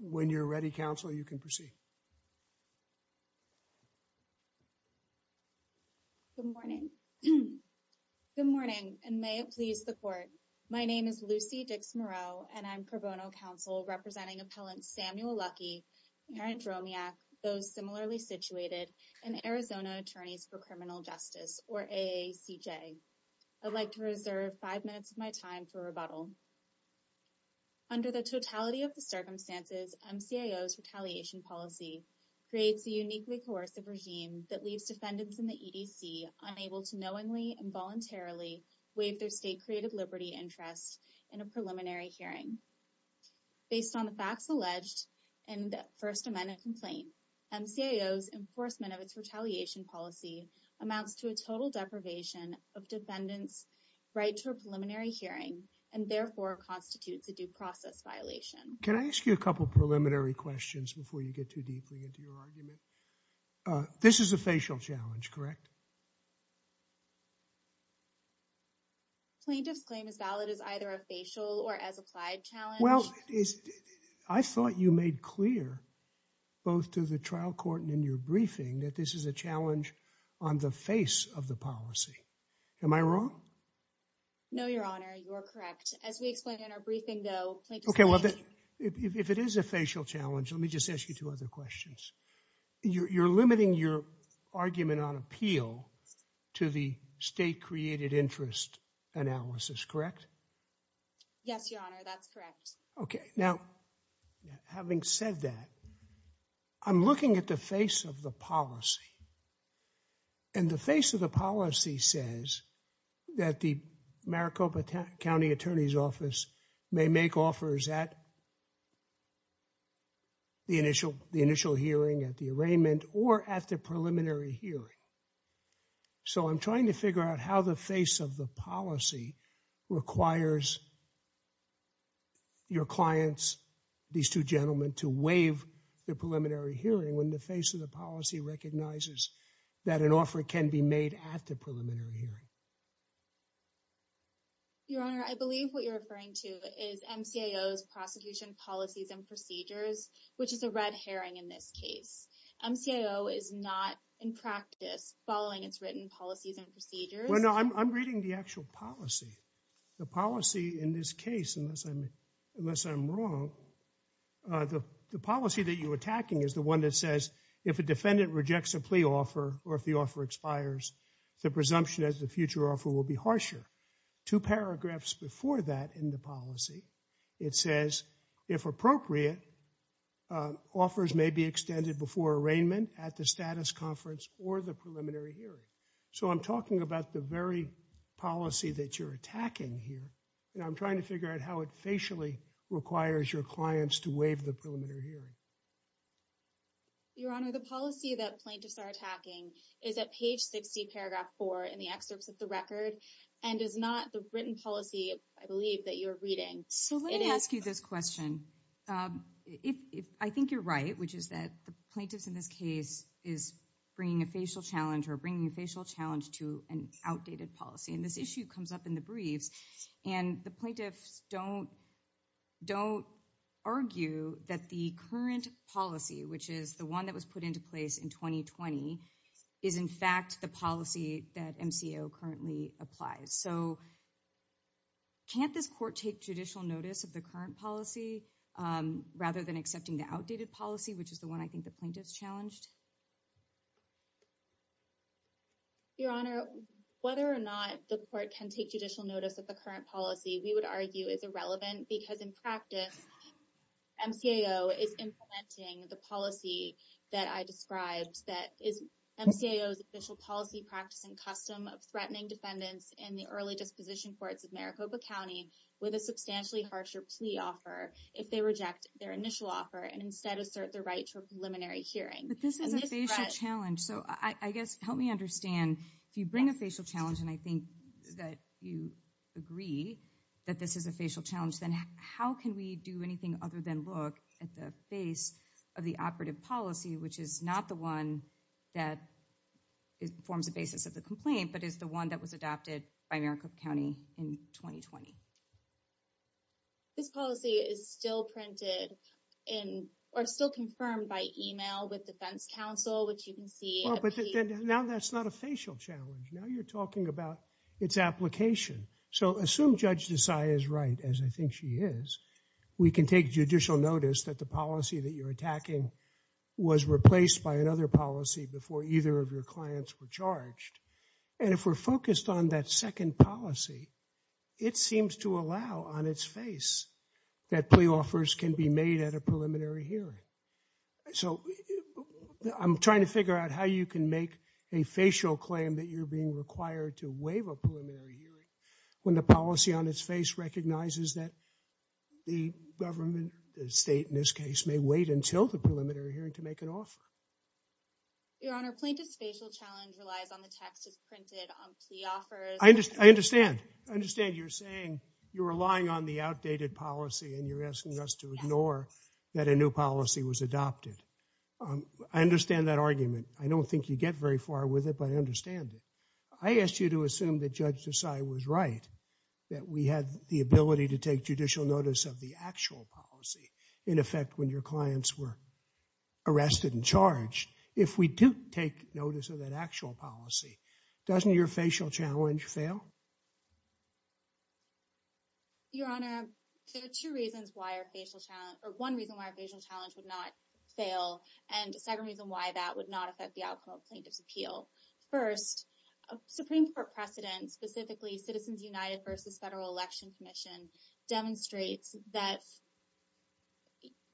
When you're ready, counsel, you can proceed. Good morning. Good morning, and may it please the court. My name is Lucy Dix-Moreau, and I'm pro bono counsel representing appellant Samuel Luckey, parent Dromiak, those similarly situated, and Arizona Attorneys for Criminal Justice, or AACJ. I'd like to reserve five minutes of my time for rebuttal. Under the totality of the circumstances, MCAO's retaliation policy creates a uniquely coercive regime that leaves defendants in the EDC unable to knowingly and voluntarily waive their state creative liberty interest in a preliminary hearing. Based on the facts alleged in the First Amendment complaint, MCAO's enforcement of its retaliation policy amounts to a total deprivation of defendants' right to a preliminary hearing, and therefore constitutes a due process violation. Can I ask you a couple preliminary questions before you get too deeply into your argument? This is a facial challenge, correct? Plaintiff's claim is valid as either a facial or as applied challenge. Well, I thought you made clear, both to the trial court and in your briefing, that this is a challenge on the face of the policy. Am I wrong? No, Your Honor, you are correct. As we explained in our briefing, though, plaintiff's claim… …to the state created interest analysis, correct? Yes, Your Honor, that's correct. Okay, now, having said that, I'm looking at the face of the policy, and the face of the policy says that the Maricopa County Attorney's Office may make offers at the initial hearing, at the arraignment, or at the preliminary hearing. So, I'm trying to figure out how the face of the policy requires your clients, these two gentlemen, to waive the preliminary hearing when the face of the policy recognizes that an offer can be made at the preliminary hearing. Your Honor, I believe what you're referring to is MCAO's prosecution policies and procedures, which is a red herring in this case. MCAO is not, in practice, following its written policies and procedures. Well, no, I'm reading the actual policy. The policy in this case, unless I'm wrong, the policy that you're attacking is the one that says, if a defendant rejects a plea offer, or if the offer expires, the presumption as a future offer will be harsher. Two paragraphs before that in the policy, it says, if appropriate, offers may be extended before arraignment, at the status conference, or the preliminary hearing. So, I'm talking about the very policy that you're attacking here, and I'm trying to figure out how it facially requires your clients to waive the preliminary hearing. Your Honor, the policy that plaintiffs are attacking is at page 60, paragraph 4, in the excerpts of the record, and is not the written policy, I believe, that you're reading. So, let me ask you this question. I think you're right, which is that the plaintiffs in this case are bringing a facial challenge to an outdated policy, and this issue comes up in the briefs, and the plaintiffs don't argue that the current policy, which is the one that was put into place in 2020, is in fact the policy that MCAO currently applies. So, can't this court take judicial notice of the current policy, rather than accepting the outdated policy, which is the one I think the plaintiffs challenged? Your Honor, whether or not the court can take judicial notice of the current policy, we would argue, is irrelevant, because in practice, MCAO is implementing the policy that I described, that is MCAO's official policy, practice, and custom of threatening defendants in the early disposition courts of Maricopa County, with a substantially harsher plea offer, if they reject their initial offer, and instead assert their right to a preliminary hearing. But this is a facial challenge, so I guess, help me understand, if you bring a facial challenge, and I think that you agree that this is a facial challenge, then how can we do anything other than look at the face of the operative policy, which is not the one that forms the basis of the complaint, but is the one that was adopted by Maricopa County in 2020? This policy is still printed in, or still confirmed by email with defense counsel, which you can see. Now that's not a facial challenge, now you're talking about its application. So assume Judge Desai is right, as I think she is, we can take judicial notice that the policy that you're attacking was replaced by another policy before either of your clients were charged, and if we're focused on that second policy, it seems to allow, on its face, that plea offers can be made at a preliminary hearing. So I'm trying to figure out how you can make a facial claim that you're being required to waive a preliminary hearing, when the policy on its face recognizes that the government, the state in this case, may wait until the preliminary hearing to make an offer. Your Honor, plaintiff's facial challenge relies on the text that's printed on plea offers. I understand. I understand you're saying you're relying on the outdated policy and you're asking us to ignore that a new policy was adopted. I understand that argument. I don't think you get very far with it, but I understand it. I asked you to assume that Judge Desai was right, that we had the ability to take judicial notice of the actual policy, in effect, when your clients were arrested and charged. If we do take notice of that actual policy, doesn't your facial challenge fail? Your Honor, there are two reasons why our facial challenge, or one reason why our facial challenge would not fail, and a second reason why that would not affect the outcome of plaintiff's appeal. First, a Supreme Court precedent, specifically Citizens United v. Federal Election Commission, demonstrates that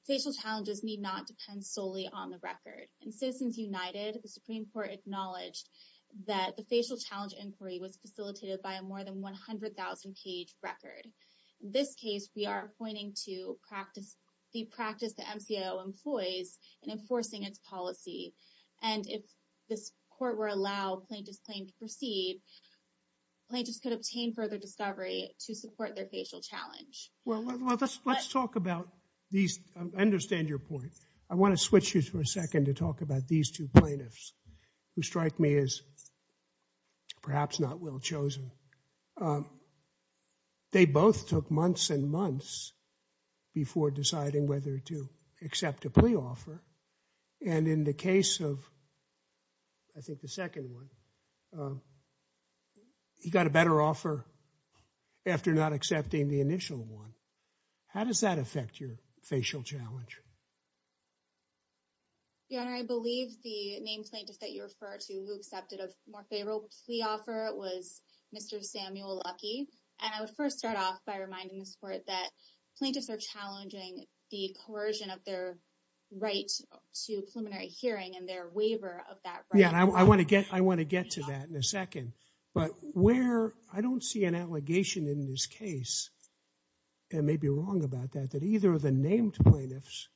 facial challenges need not depend solely on the record. In Citizens United, the Supreme Court acknowledged that the facial challenge inquiry was facilitated by a more than 100,000-page record. In this case, we are pointing to the practice the MCO employs in enforcing its policy. And if this Court were to allow plaintiffs' claim to proceed, plaintiffs could obtain further discovery to support their facial challenge. Well, let's talk about these. I understand your point. I want to switch you for a second to talk about these two plaintiffs who strike me as perhaps not well chosen. They both took months and months before deciding whether to accept a plea offer. And in the case of, I think, the second one, he got a better offer after not accepting the initial one. How does that affect your facial challenge? Your Honor, I believe the named plaintiff that you refer to who accepted a more favorable plea offer was Mr. Samuel Luckey. And I would first start off by reminding this Court that plaintiffs are challenging the coercion of their right to preliminary hearing and their waiver of that right. Yeah, I want to get to that in a second. But where I don't see an allegation in this case, and may be wrong about that, that either of the named plaintiffs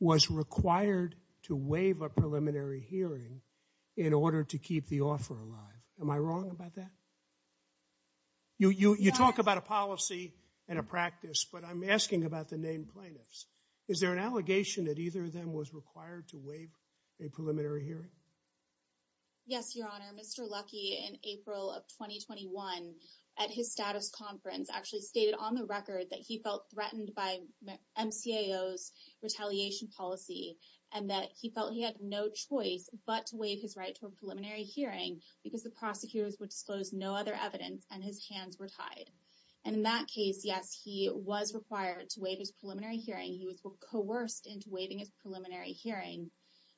was required to waive a preliminary hearing in order to keep the offer alive. Am I wrong about that? You talk about a policy and a practice, but I'm asking about the named plaintiffs. Is there an allegation that either of them was required to waive a preliminary hearing? Yes, Your Honor. Mr. Luckey, in April of 2021, at his status conference, actually stated on the record that he felt threatened by MCAO's retaliation policy. And that he felt he had no choice but to waive his right to a preliminary hearing because the prosecutors would disclose no other evidence and his hands were tied. And in that case, yes, he was required to waive his preliminary hearing. He was coerced into waiving his preliminary hearing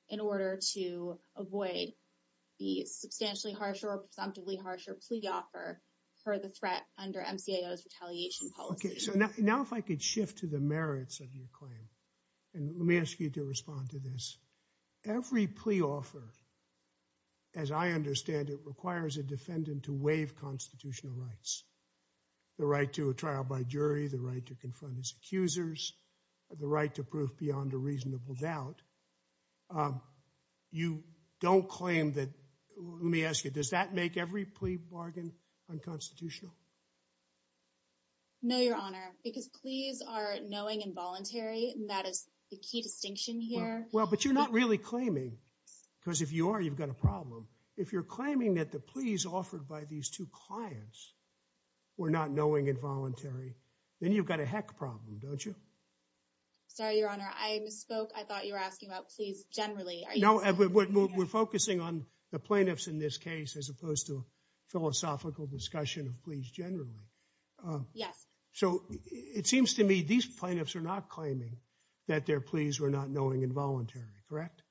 in order to avoid the substantially harsher or presumptively harsher plea offer for the threat under MCAO's retaliation policy. Okay, so now if I could shift to the merits of your claim, and let me ask you to respond to this. Every plea offer, as I understand it, requires a defendant to waive constitutional rights. The right to a trial by jury, the right to confront his accusers, the right to prove beyond a reasonable doubt. You don't claim that, let me ask you, does that make every plea bargain unconstitutional? No, Your Honor, because pleas are knowing and voluntary, and that is the key distinction here. Well, but you're not really claiming, because if you are, you've got a problem. If you're claiming that the pleas offered by these two clients were not knowing and voluntary, then you've got a heck problem, don't you? Sorry, Your Honor, I misspoke. I thought you were asking about pleas generally. No, we're focusing on the plaintiffs in this case as opposed to philosophical discussion of pleas generally. Yes. So it seems to me these plaintiffs are not claiming that their pleas were not knowing and voluntary, correct?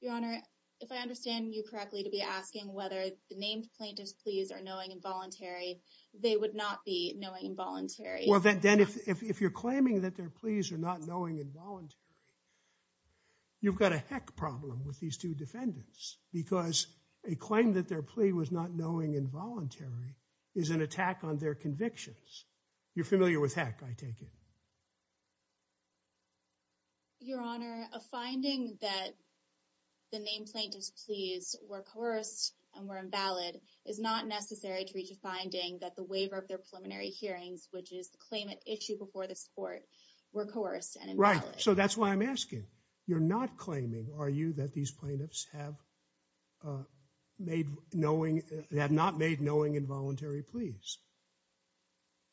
Your Honor, if I understand you correctly to be asking whether the named plaintiffs' pleas are knowing and voluntary, they would not be knowing and voluntary. Well, then if you're claiming that their pleas are not knowing and voluntary, you've got a heck problem with these two defendants, because a claim that their plea was not knowing and voluntary is an attack on their convictions. You're familiar with heck, I take it. Your Honor, a finding that the named plaintiffs' pleas were coerced and were invalid is not necessary to reach a finding that the waiver of their preliminary hearings, which is the claimant issued before this court, were coerced and invalid. Right, so that's why I'm asking. You're not claiming, are you, that these plaintiffs have not made knowing and voluntary pleas?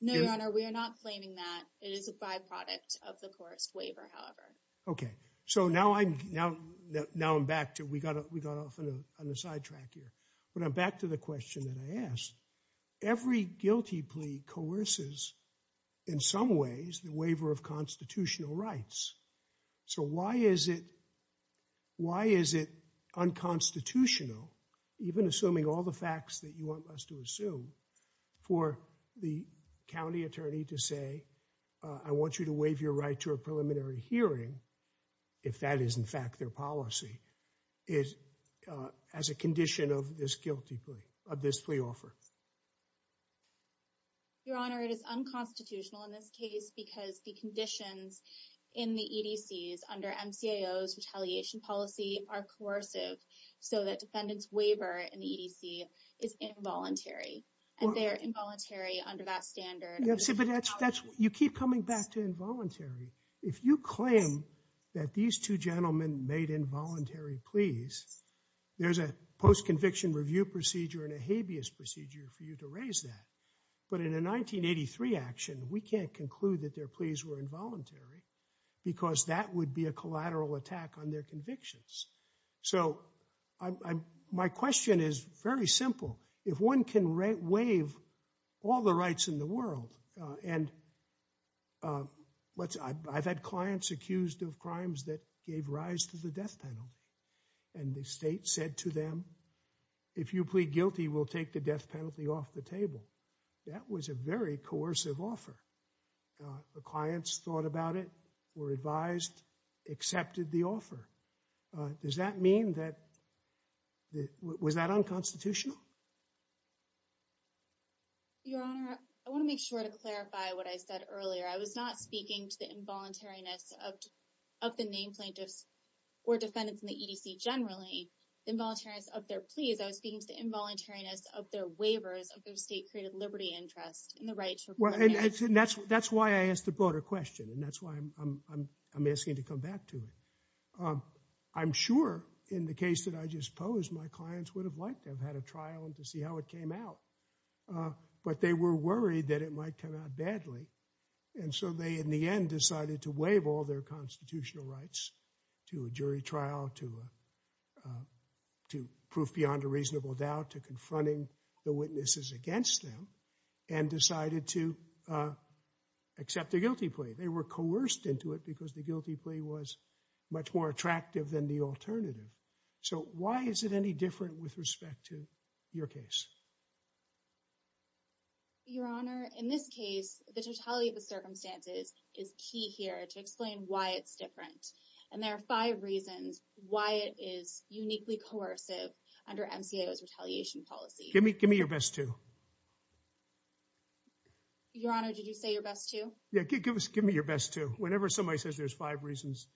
No, Your Honor, we are not claiming that. It is a byproduct of the coerced waiver, however. Okay, so now I'm back to, we got off on a sidetrack here, but I'm back to the question that I asked. Every guilty plea coerces, in some ways, the waiver of constitutional rights. So why is it unconstitutional, even assuming all the facts that you want us to assume, for the county attorney to say, I want you to waive your right to a preliminary hearing, if that is in fact their policy, as a condition of this guilty plea, of this plea offer? Your Honor, it is unconstitutional in this case because the conditions in the EDCs under MCAO's retaliation policy are coercive, so that defendant's waiver in the EDC is involuntary, and they're involuntary under that standard. You keep coming back to involuntary. If you claim that these two gentlemen made involuntary pleas, there's a post-conviction review procedure and a habeas procedure for you to raise that. But in a 1983 action, we can't conclude that their pleas were involuntary, because that would be a collateral attack on their convictions. So my question is very simple. If one can waive all the rights in the world, and I've had clients accused of crimes that gave rise to the death penalty, and the state said to them, if you plead guilty, we'll take the death penalty off the table. That was a very coercive offer. The clients thought about it, were advised, accepted the offer. Does that mean that, was that unconstitutional? Your Honor, I want to make sure to clarify what I said earlier. I was not speaking to the involuntariness of the name plaintiffs or defendants in the EDC generally. The involuntariness of their pleas, I was speaking to the involuntariness of their waivers, of their state-created liberty interest, and the right to— That's why I asked the broader question, and that's why I'm asking you to come back to it. I'm sure in the case that I just posed, my clients would have liked to have had a trial and to see how it came out, but they were worried that it might come out badly. And so they, in the end, decided to waive all their constitutional rights to a jury trial, to proof beyond a reasonable doubt, to confronting the witnesses against them, and decided to accept the guilty plea. They were coerced into it because the guilty plea was much more attractive than the alternative. So why is it any different with respect to your case? Your Honor, in this case, the totality of the circumstances is key here to explain why it's different. And there are five reasons why it is uniquely coercive under MCAO's retaliation policy. Give me your best two. Your Honor, did you say your best two? Yeah, give me your best two. Whenever somebody says there's five reasons,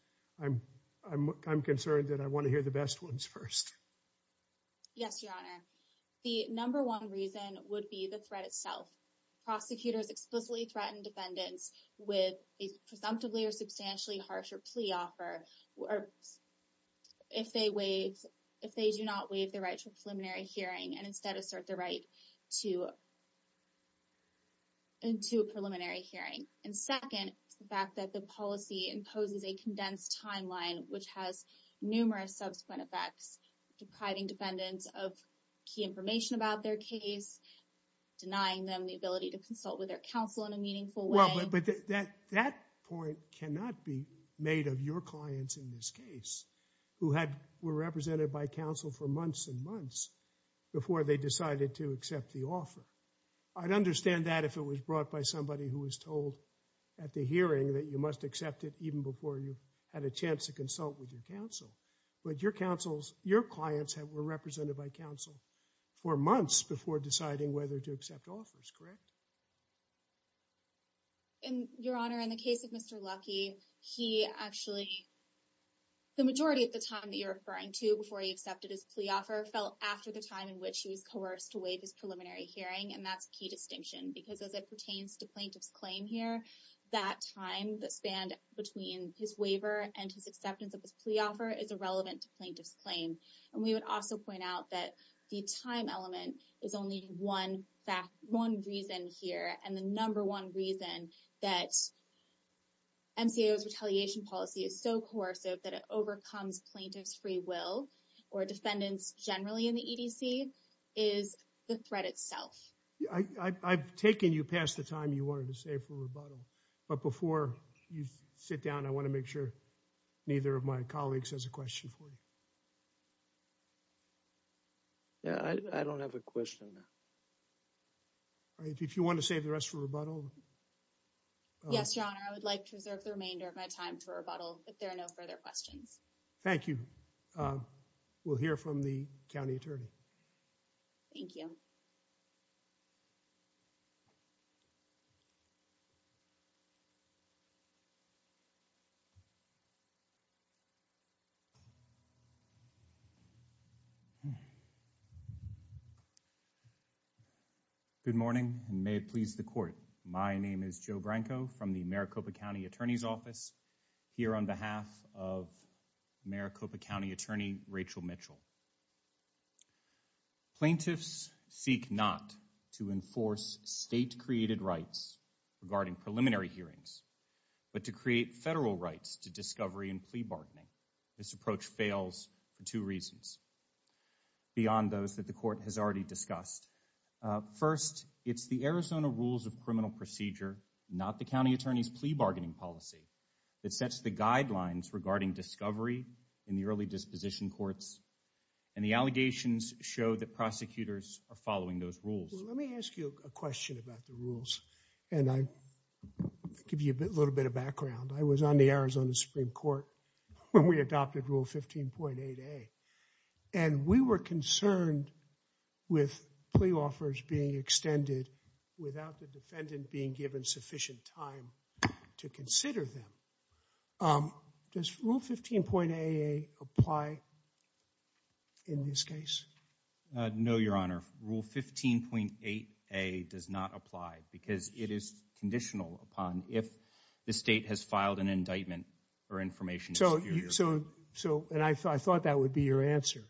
I'm concerned that I want to hear the best ones first. Yes, Your Honor. The number one reason would be the threat itself. Prosecutors explicitly threaten defendants with a presumptively or substantially harsher plea offer if they do not waive their right to a preliminary hearing and instead assert their right to a preliminary hearing. And second, the fact that the policy imposes a condensed timeline which has numerous subsequent effects, depriving defendants of key information about their case, denying them the ability to consult with their counsel in a meaningful way. But that point cannot be made of your clients in this case, who were represented by counsel for months and months before they decided to accept the offer. I'd understand that if it was brought by somebody who was told at the hearing that you must accept it even before you had a chance to consult with your counsel. But your clients were represented by counsel for months before deciding whether to accept offers, correct? Your Honor, in the case of Mr. Luckey, the majority of the time that you're referring to before he accepted his plea offer fell after the time in which he was coerced to waive his preliminary hearing, and that's a key distinction. Because as it pertains to plaintiff's claim here, that time that spanned between his waiver and his acceptance of his plea offer is irrelevant to plaintiff's claim. And we would also point out that the time element is only one reason here, and the number one reason that MCAO's retaliation policy is so coercive that it overcomes plaintiff's free will or defendants generally in the EDC is the threat itself. I've taken you past the time you wanted to save for rebuttal, but before you sit down, I want to make sure neither of my colleagues has a question for you. I don't have a question. If you want to save the rest for rebuttal. Yes, Your Honor, I would like to reserve the remainder of my time for rebuttal if there are no further questions. Thank you. We'll hear from the county attorney. Thank you. Good morning. May it please the court. My name is Joe Branco from the Maricopa County Attorney's Office here on behalf of Maricopa County Attorney Rachel Mitchell. Plaintiffs seek not to enforce state created rights regarding preliminary hearings, but to create federal rights to discovery and plea bargaining. This approach fails for two reasons beyond those that the court has already discussed. First, it's the Arizona rules of criminal procedure, not the county attorney's plea bargaining policy, that sets the guidelines regarding discovery in the early disposition courts. And the allegations show that prosecutors are following those rules. Let me ask you a question about the rules. And I give you a little bit of background. I was on the Arizona Supreme Court when we adopted Rule 15.8A. And we were concerned with plea offers being extended without the defendant being given sufficient time to consider them. Does Rule 15.8A apply in this case? No, Your Honor. Rule 15.8A does not apply because it is conditional upon if the state has filed an indictment or information. So, and I thought that would be your answer.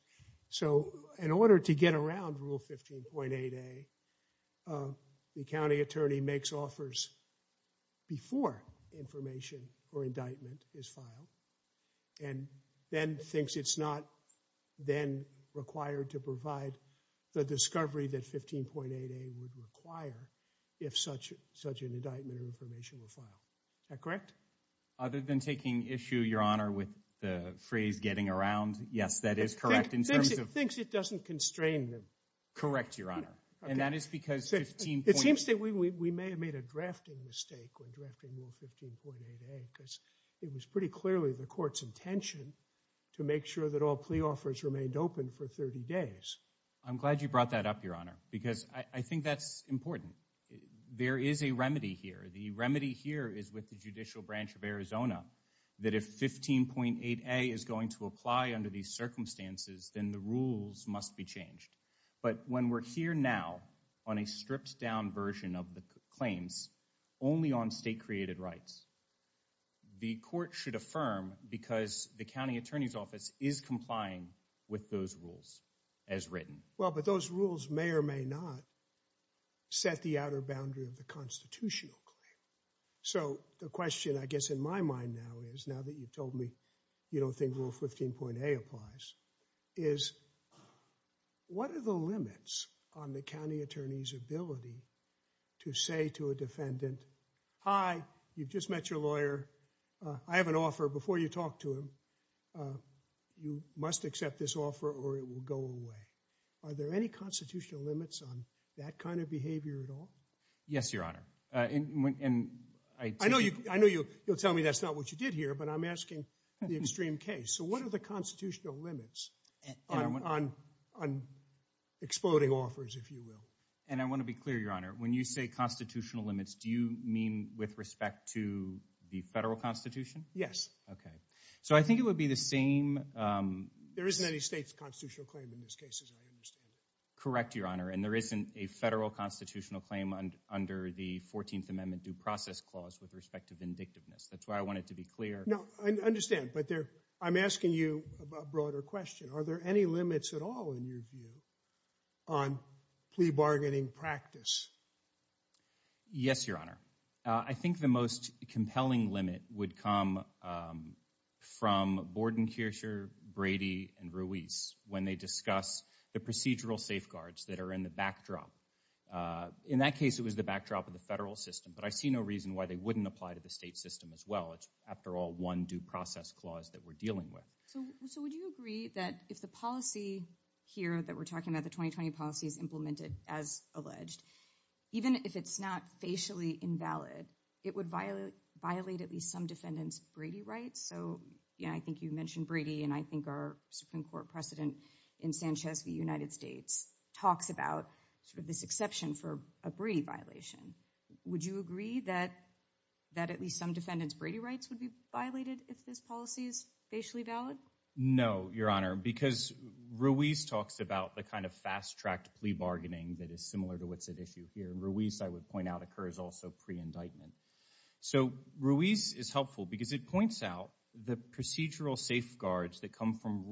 So, in order to get around Rule 15.8A, the county attorney makes offers before information or indictment is filed and then thinks it's not then required to provide the discovery that 15.8A would require if such an indictment or information were filed. Is that correct? Other than taking issue, Your Honor, with the phrase getting around, yes, that is correct in terms of Thinks it doesn't constrain them. Correct, Your Honor. And that is because 15.8 It seems that we may have made a drafting mistake when drafting Rule 15.8A because it was pretty clearly the court's intention to make sure that all plea offers remained open for 30 days. I'm glad you brought that up, Your Honor, because I think that's important. There is a remedy here. The remedy here is with the Judicial Branch of Arizona that if 15.8A is going to apply under these circumstances, then the rules must be changed. But when we're here now on a stripped-down version of the claims, only on state-created rights, the court should affirm because the county attorney's office is complying with those rules as written. Well, but those rules may or may not set the outer boundary of the constitutional claim. So the question, I guess, in my mind now is, now that you've told me you don't think Rule 15.8 applies, is what are the limits on the county attorney's ability to say to a defendant, Hi, you've just met your lawyer. I have an offer. Before you talk to him, you must accept this offer or it will go away. Are there any constitutional limits on that kind of behavior at all? Yes, Your Honor. I know you'll tell me that's not what you did here, but I'm asking the extreme case. So what are the constitutional limits on exploding offers, if you will? And I want to be clear, Your Honor, when you say constitutional limits, do you mean with respect to the federal constitution? Yes. Okay. So I think it would be the same. There isn't any state's constitutional claim in this case, as I understand it. Correct, Your Honor. And there isn't a federal constitutional claim under the 14th Amendment due process clause with respect to vindictiveness. That's why I wanted to be clear. No, I understand. But I'm asking you a broader question. Are there any limits at all, in your view, on plea bargaining practice? Yes, Your Honor. I think the most compelling limit would come from Borden, Kircher, Brady, and Ruiz when they discuss the procedural safeguards that are in the backdrop. In that case, it was the backdrop of the federal system. But I see no reason why they wouldn't apply to the state system as well. It's, after all, one due process clause that we're dealing with. So would you agree that if the policy here that we're talking about, the 2020 policy, is implemented as alleged, even if it's not facially invalid, it would violate at least some defendants' Brady rights? So I think you mentioned Brady, and I think our Supreme Court precedent in Sanchez v. United States talks about this exception for a Brady violation. Would you agree that at least some defendants' Brady rights would be violated if this policy is facially valid? No, Your Honor, because Ruiz talks about the kind of fast-tracked plea bargaining that is similar to what's at issue here. And Ruiz, I would point out, occurs also pre-indictment. So Ruiz is helpful because it points out the procedural safeguards that come from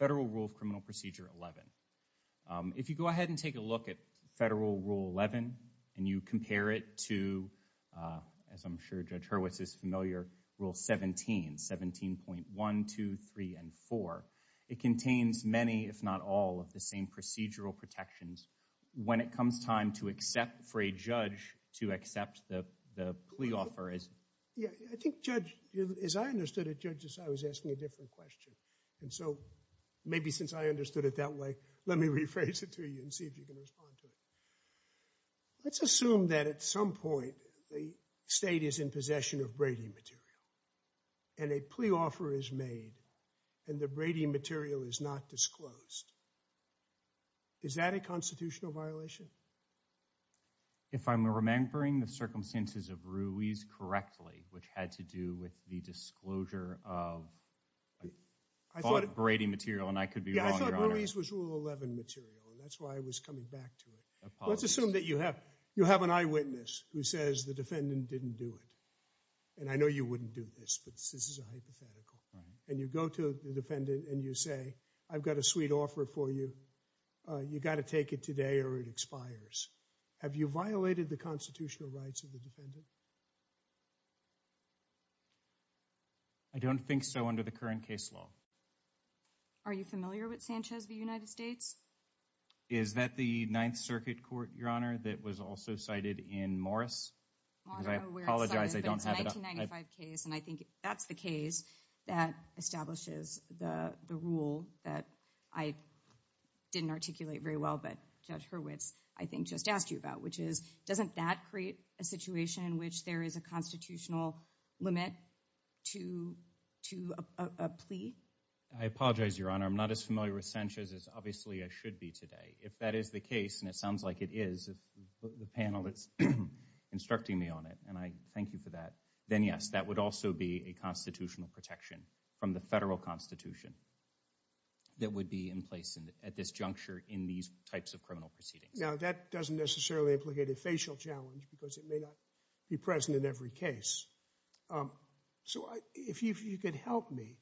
Federal Rule of Criminal Procedure 11. If you go ahead and take a look at Federal Rule 11 and you compare it to, as I'm sure Judge Hurwitz is familiar, Rule 17, 17.1, 2, 3, and 4, it contains many, if not all, of the same procedural protections. When it comes time to accept for a judge to accept the plea offer as— And so maybe since I understood it that way, let me rephrase it to you and see if you can respond to it. Let's assume that at some point the state is in possession of Brady material and a plea offer is made and the Brady material is not disclosed. Is that a constitutional violation? If I'm remembering the circumstances of Ruiz correctly, which had to do with the disclosure of Brady material, and I could be wrong, Your Honor. Yeah, I thought Ruiz was Rule 11 material and that's why I was coming back to it. Let's assume that you have an eyewitness who says the defendant didn't do it. And I know you wouldn't do this, but this is a hypothetical. And you go to the defendant and you say, I've got a sweet offer for you. You've got to take it today or it expires. Have you violated the constitutional rights of the defendant? I don't think so under the current case law. Are you familiar with Sanchez v. United States? Is that the Ninth Circuit Court, Your Honor, that was also cited in Morris? I apologize, but it's a 1995 case and I think that's the case that establishes the rule that I didn't articulate very well, but Judge Hurwitz, I think, just asked you about. Which is, doesn't that create a situation in which there is a constitutional limit to a plea? I apologize, Your Honor. I'm not as familiar with Sanchez as obviously I should be today. If that is the case, and it sounds like it is, if the panel is instructing me on it, and I thank you for that, then yes, that would also be a constitutional protection from the federal constitution that would be in place at this juncture in these types of criminal proceedings. Now, that doesn't necessarily implicate a facial challenge because it may not be present in every case. So if you could help me,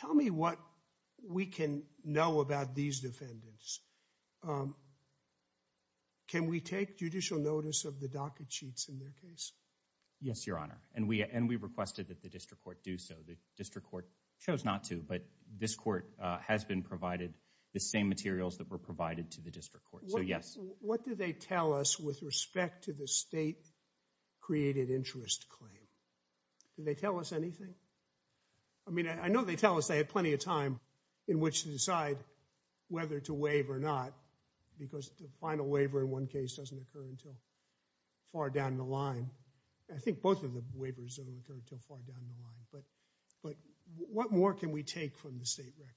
tell me what we can know about these defendants. Can we take judicial notice of the docket sheets in their case? Yes, Your Honor, and we requested that the district court do so. The district court chose not to, but this court has been provided the same materials that were provided to the district court, so yes. What do they tell us with respect to the state-created interest claim? Do they tell us anything? I mean, I know they tell us they had plenty of time in which to decide whether to waive or not, because the final waiver in one case doesn't occur until far down the line. I think both of the waivers don't occur until far down the line, but what more can we take from the state record?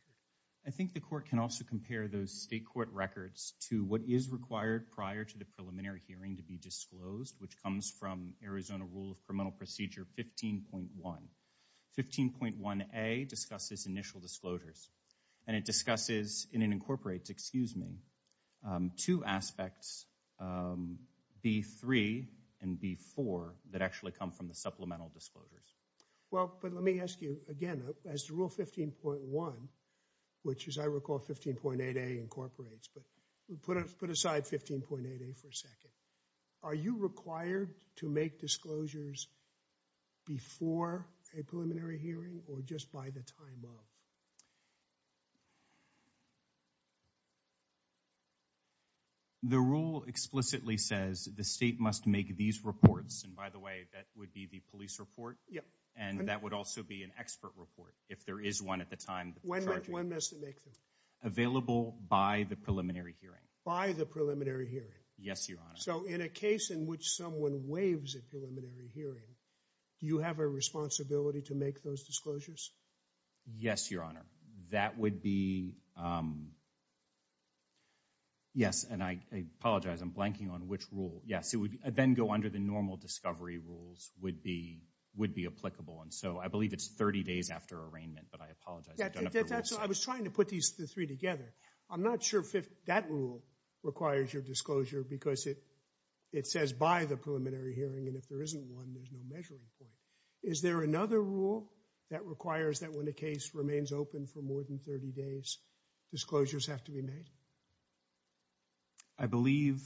I think the court can also compare those state court records to what is required prior to the preliminary hearing to be disclosed, which comes from Arizona Rule of Criminal Procedure 15.1. 15.1A discusses initial disclosures, and it discusses, and it incorporates, excuse me, two aspects, B3 and B4, that actually come from the supplemental disclosures. Well, but let me ask you again, as to Rule 15.1, which, as I recall, 15.8A incorporates, but put aside 15.8A for a second. Are you required to make disclosures before a preliminary hearing or just by the time of? The rule explicitly says the state must make these reports, and by the way, that would be the police report, and that would also be an expert report if there is one at the time. When must it make them? Available by the preliminary hearing. By the preliminary hearing? Yes, Your Honor. So in a case in which someone waives a preliminary hearing, do you have a responsibility to make those disclosures? Yes, Your Honor. That would be, yes, and I apologize, I'm blanking on which rule. Yes, it would then go under the normal discovery rules would be applicable, and so I believe it's 30 days after arraignment, but I apologize. I was trying to put these three together. I'm not sure that rule requires your disclosure because it says by the preliminary hearing, and if there isn't one, there's no measuring point. Is there another rule that requires that when a case remains open for more than 30 days, disclosures have to be made? I believe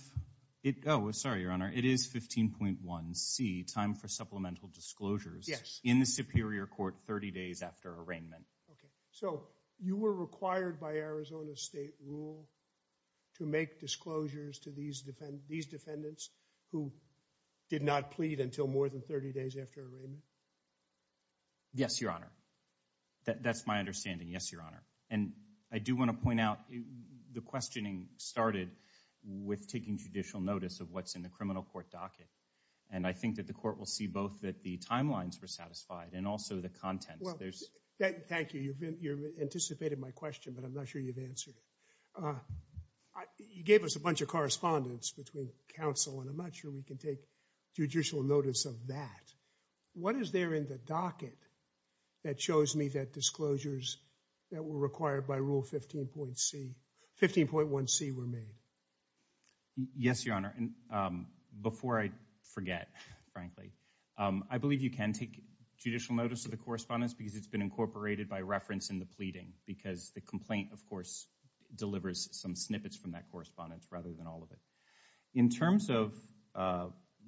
it, oh, sorry, Your Honor, it is 15.1C, time for supplemental disclosures. Yes. In the Superior Court 30 days after arraignment. Okay, so you were required by Arizona state rule to make disclosures to these defendants who did not plead until more than 30 days after arraignment? Yes, Your Honor. That's my understanding, yes, Your Honor, and I do want to point out the questioning started with taking judicial notice of what's in the criminal court docket, and I think that the court will see both that the timelines were satisfied and also the contents. Well, thank you, you've anticipated my question, but I'm not sure you've answered it. You gave us a bunch of correspondence between counsel, and I'm not sure we can take judicial notice of that. What is there in the docket that shows me that disclosures that were required by Rule 15.1C were made? Yes, Your Honor, and before I forget, frankly, I believe you can take judicial notice of the correspondence because it's been incorporated by reference in the pleading, because the complaint, of course, delivers some snippets from that correspondence rather than all of it. In terms of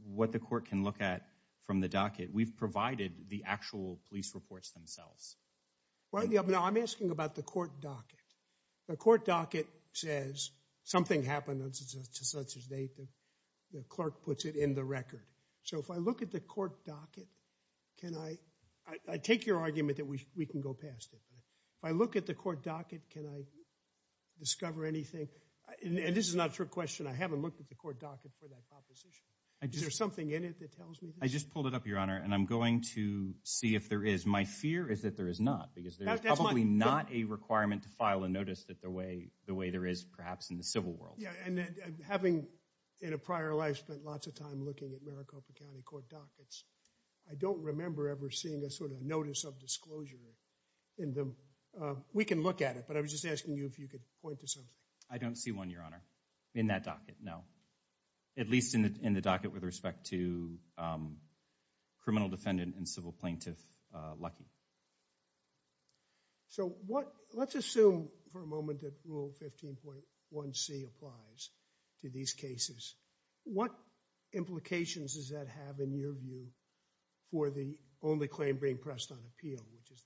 what the court can look at from the docket, we've provided the actual police reports themselves. Now, I'm asking about the court docket. The court docket says something happened to such-and-such date that the clerk puts it in the record. So if I look at the court docket, can I – I take your argument that we can go past it, but if I look at the court docket, can I discover anything? And this is not a trick question. I haven't looked at the court docket for that proposition. Is there something in it that tells me this? I just pulled it up, Your Honor, and I'm going to see if there is. My fear is that there is not, because there is probably not a requirement to file a notice the way there is perhaps in the civil world. Yeah, and having in a prior life spent lots of time looking at Maricopa County court dockets, I don't remember ever seeing a sort of notice of disclosure in them. We can look at it, but I was just asking you if you could point to something. I don't see one, Your Honor, in that docket, no, at least in the docket with respect to criminal defendant and civil plaintiff Lucky. So what – let's assume for a moment that Rule 15.1C applies to these cases. What implications does that have in your view for the only claim being pressed on appeal, which is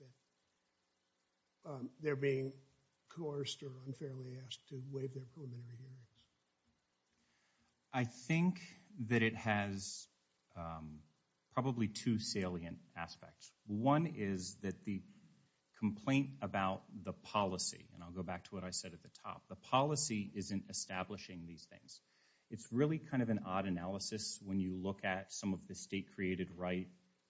that they're being coerced or unfairly asked to waive their preliminary hearings? I think that it has probably two salient aspects. One is that the complaint about the policy, and I'll go back to what I said at the top, the policy isn't establishing these things. It's really kind of an odd analysis when you look at some of the state-created right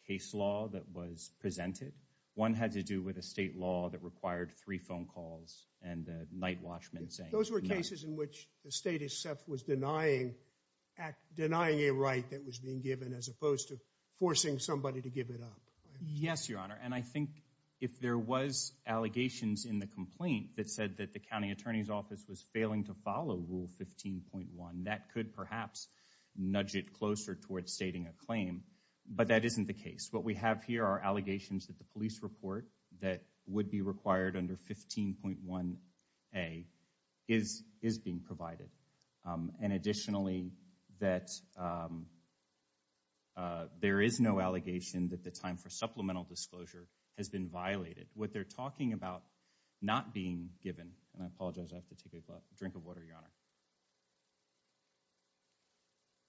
case law that was presented. One had to do with a state law that required three phone calls and the night watchman saying – Those were cases in which the state itself was denying a right that was being given as opposed to forcing somebody to give it up. Yes, Your Honor, and I think if there was allegations in the complaint that said that the county attorney's office was failing to follow Rule 15.1, that could perhaps nudge it closer towards stating a claim, but that isn't the case. What we have here are allegations that the police report that would be required under 15.1A is being provided, and additionally that there is no allegation that the time for supplemental disclosure has been violated. What they're talking about not being given – and I apologize, I have to take a drink of water, Your Honor.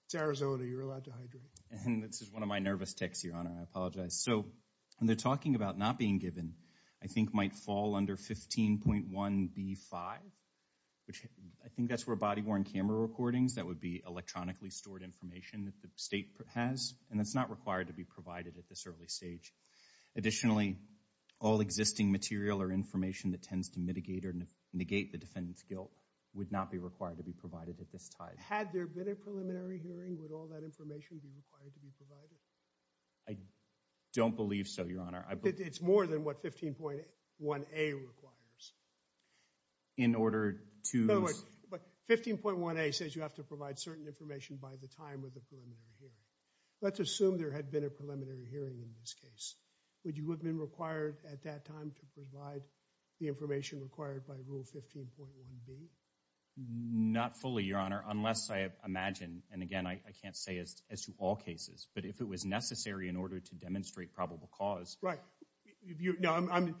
It's Arizona. You're allowed to hydrate. And this is one of my nervous tics, Your Honor. I apologize. So when they're talking about not being given, I think might fall under 15.1B5, which I think that's for body-worn camera recordings. That would be electronically stored information that the state has, and that's not required to be provided at this early stage. Additionally, all existing material or information that tends to mitigate or negate the defendant's guilt would not be required to be provided at this time. Had there been a preliminary hearing, would all that information be required to be provided? I don't believe so, Your Honor. It's more than what 15.1A requires. In order to – But 15.1A says you have to provide certain information by the time of the preliminary hearing. Let's assume there had been a preliminary hearing in this case. Would you have been required at that time to provide the information required by Rule 15.1B? Not fully, Your Honor, unless I imagine – and again, I can't say as to all cases, but if it was necessary in order to demonstrate probable cause – Right. I'm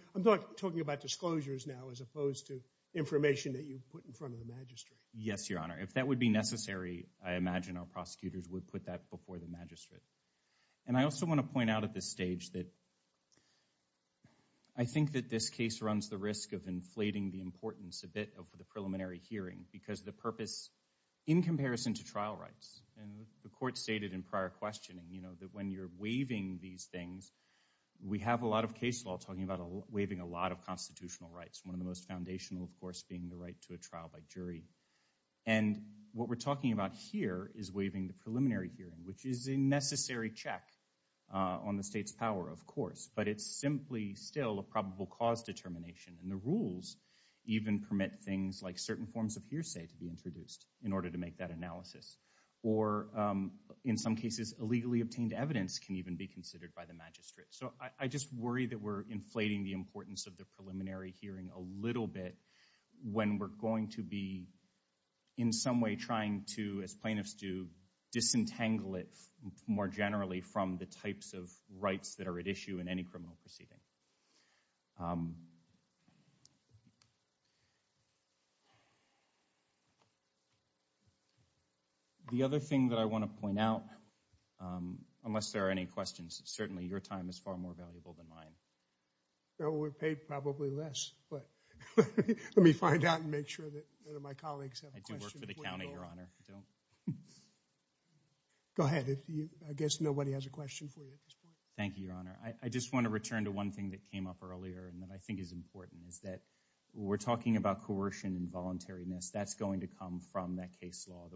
talking about disclosures now as opposed to information that you put in front of the magistrate. Yes, Your Honor. If that would be necessary, I imagine our prosecutors would put that before the magistrate. And I also want to point out at this stage that I think that this case runs the risk of inflating the importance a bit of the preliminary hearing because the purpose – in comparison to trial rights, and the Court stated in prior questioning that when you're waiving these things, we have a lot of case law talking about waiving a lot of constitutional rights, one of the most foundational, of course, being the right to a trial by jury. And what we're talking about here is waiving the preliminary hearing, which is a necessary check on the state's power, of course, but it's simply still a probable cause determination. And the rules even permit things like certain forms of hearsay to be introduced in order to make that analysis or, in some cases, illegally obtained evidence can even be considered by the magistrate. So I just worry that we're inflating the importance of the preliminary hearing a little bit when we're going to be in some way trying to, as plaintiffs do, disentangle it more generally from the types of rights that are at issue in any criminal proceeding. The other thing that I want to point out, unless there are any questions, certainly your time is far more valuable than mine. We're paid probably less, but let me find out and make sure that my colleagues have a question. I do work for the county, Your Honor. Go ahead. I guess nobody has a question for you at this point. Thank you, Your Honor. I just want to return to one thing that came up earlier and that I think is important, is that we're talking about coercion and voluntariness. That's going to come from that case law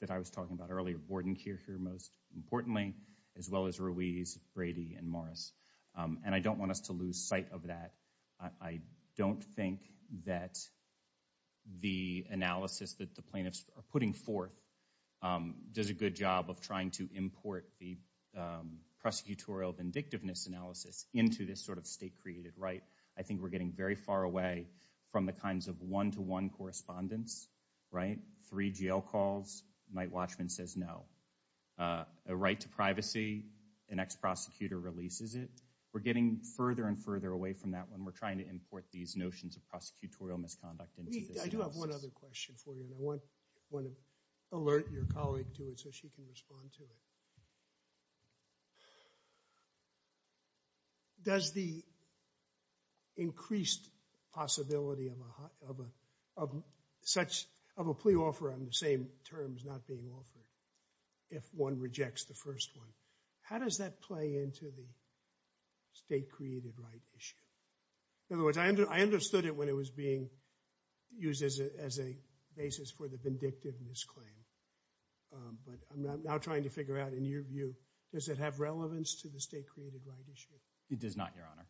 that I was talking about earlier, Vordenkircher most importantly, as well as Ruiz, Brady, and Morris. And I don't want us to lose sight of that. I don't think that the analysis that the plaintiffs are putting forth does a good job of trying to import the prosecutorial vindictiveness analysis into this sort of state-created right. I think we're getting very far away from the kinds of one-to-one correspondence, right? Three jail calls, Mike Watchman says no. A right to privacy, an ex-prosecutor releases it. We're getting further and further away from that when we're trying to import these notions of prosecutorial misconduct into this analysis. I do have one other question for you, and I want to alert your colleague to it so she can respond to it. Does the increased possibility of a plea offer on the same terms not being offered, if one rejects the first one, how does that play into the state-created right issue? In other words, I understood it when it was being used as a basis for the vindictiveness claim, but I'm now trying to figure out, in your view, does it have relevance to the state-created right issue? It does not, Your Honor.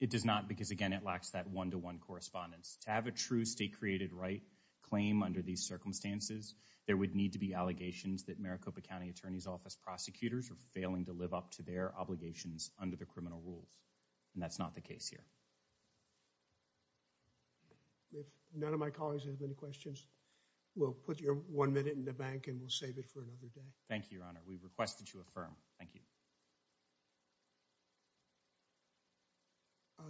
It does not because, again, it lacks that one-to-one correspondence. To have a true state-created right claim under these circumstances, there would need to be allegations that Maricopa County Attorney's Office prosecutors are failing to live up to their obligations under the criminal rules, and that's not the case here. If none of my colleagues have any questions, we'll put your one minute in the bank and we'll save it for another day. Thank you, Your Honor. We request that you affirm. Thank you.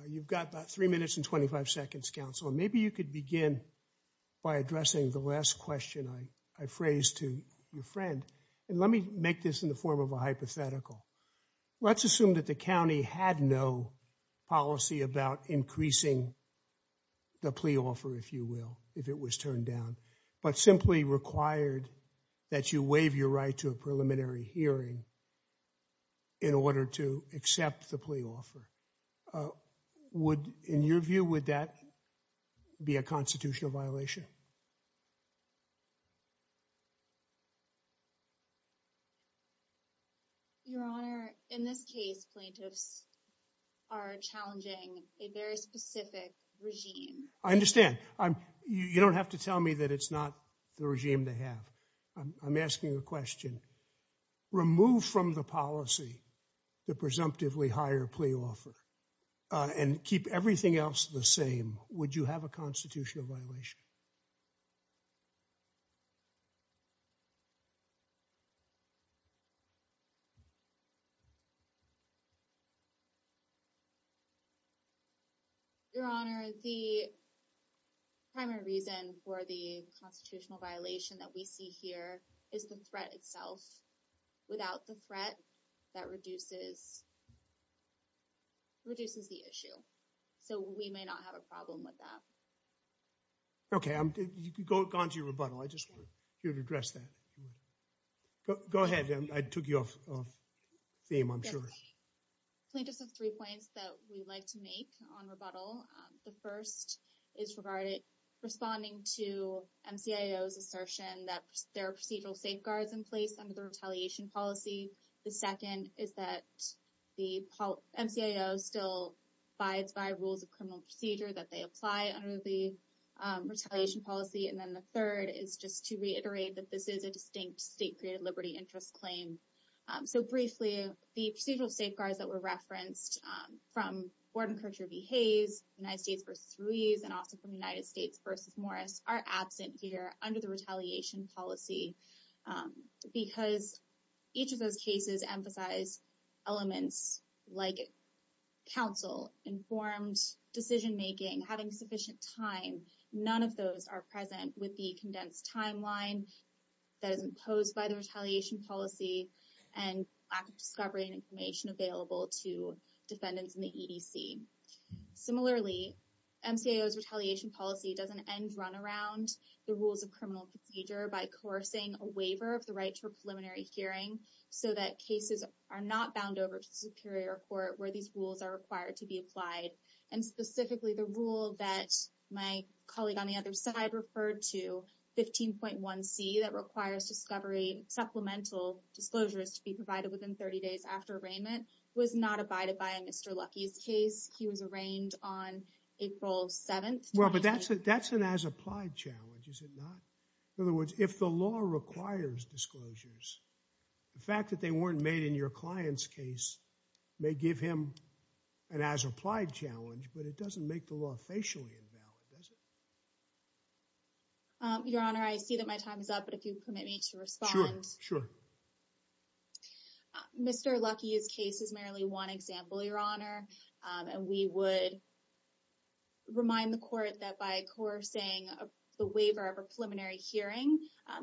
You've got about three minutes and 25 seconds, Counsel. Maybe you could begin by addressing the last question I phrased to your friend, and let me make this in the form of a hypothetical. Let's assume that the county had no policy about increasing the plea offer, if you will, if it was turned down, but simply required that you waive your right to a preliminary hearing in order to accept the plea offer. In your view, would that be a constitutional violation? Sure. Your Honor, in this case, plaintiffs are challenging a very specific regime. I understand. You don't have to tell me that it's not the regime they have. I'm asking a question. Remove from the policy the presumptively higher plea offer, and keep everything else the same. Would you have a constitutional violation? Your Honor, the primary reason for the constitutional violation that we see here is the threat itself. Without the threat, that reduces the issue, so we may not have a problem with that. Okay. Go on to your rebuttal. I just want you to address that. Go ahead. I took you off theme, I'm sure. Plaintiffs have three points that we'd like to make on rebuttal. The first is responding to MCIO's assertion that there are procedural safeguards in place under the retaliation policy. The second is that the MCIO still abides by rules of criminal procedure that they apply under the retaliation policy. And then the third is just to reiterate that this is a distinct state created liberty interest claim. So briefly, the procedural safeguards that were referenced from Gordon Kirchherr v. Hayes, United States v. Ruiz, and also from United States v. Morris are absent here under the retaliation policy, because each of those cases emphasize elements like counsel, informed decision making, having sufficient time. None of those are present with the condensed timeline that is imposed by the retaliation policy and lack of discovery and information available to defendants in the EDC. Similarly, MCIO's retaliation policy doesn't end run around the rules of criminal procedure by coercing a waiver of the right to a preliminary hearing so that cases are not bound over to the superior court where these rules are required to be applied. And specifically, the rule that my colleague on the other side referred to, 15.1c, that requires discovery and supplemental disclosures to be provided within 30 days after arraignment, was not abided by in Mr. Luckey's case. He was arraigned on April 7th. Well, but that's an as-applied challenge, is it not? In other words, if the law requires disclosures, the fact that they weren't made in your client's case may give him an as-applied challenge, but it doesn't make the law facially invalid, does it? Your Honor, I see that my time is up, but if you permit me to respond. Sure, sure. Mr. Luckey's case is merely one example, Your Honor, and we would remind the court that by coercing the waiver of a preliminary hearing,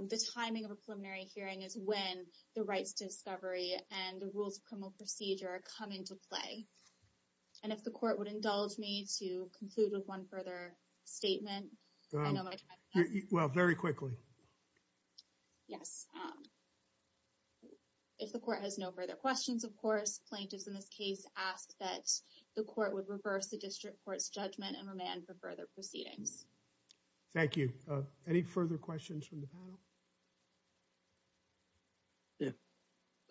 the timing of a preliminary hearing is when the rights to discovery and the rules of criminal procedure come into play. And if the court would indulge me to conclude with one further statement. Well, very quickly. Yes. If the court has no further questions, of course, plaintiffs in this case ask that the court would reverse the district court's judgment and remand for further proceedings. Thank you. Any further questions from the panel?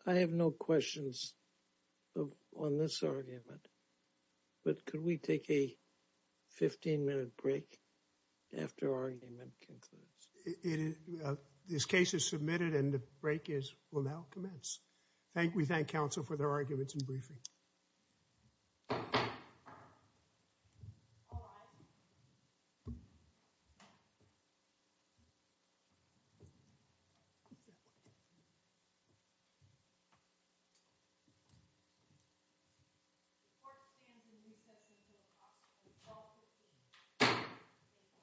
I have no questions on this argument, but could we take a 15-minute break after our argument concludes? This case is submitted and the break will now commence. We thank counsel for their arguments and briefing. Thank you.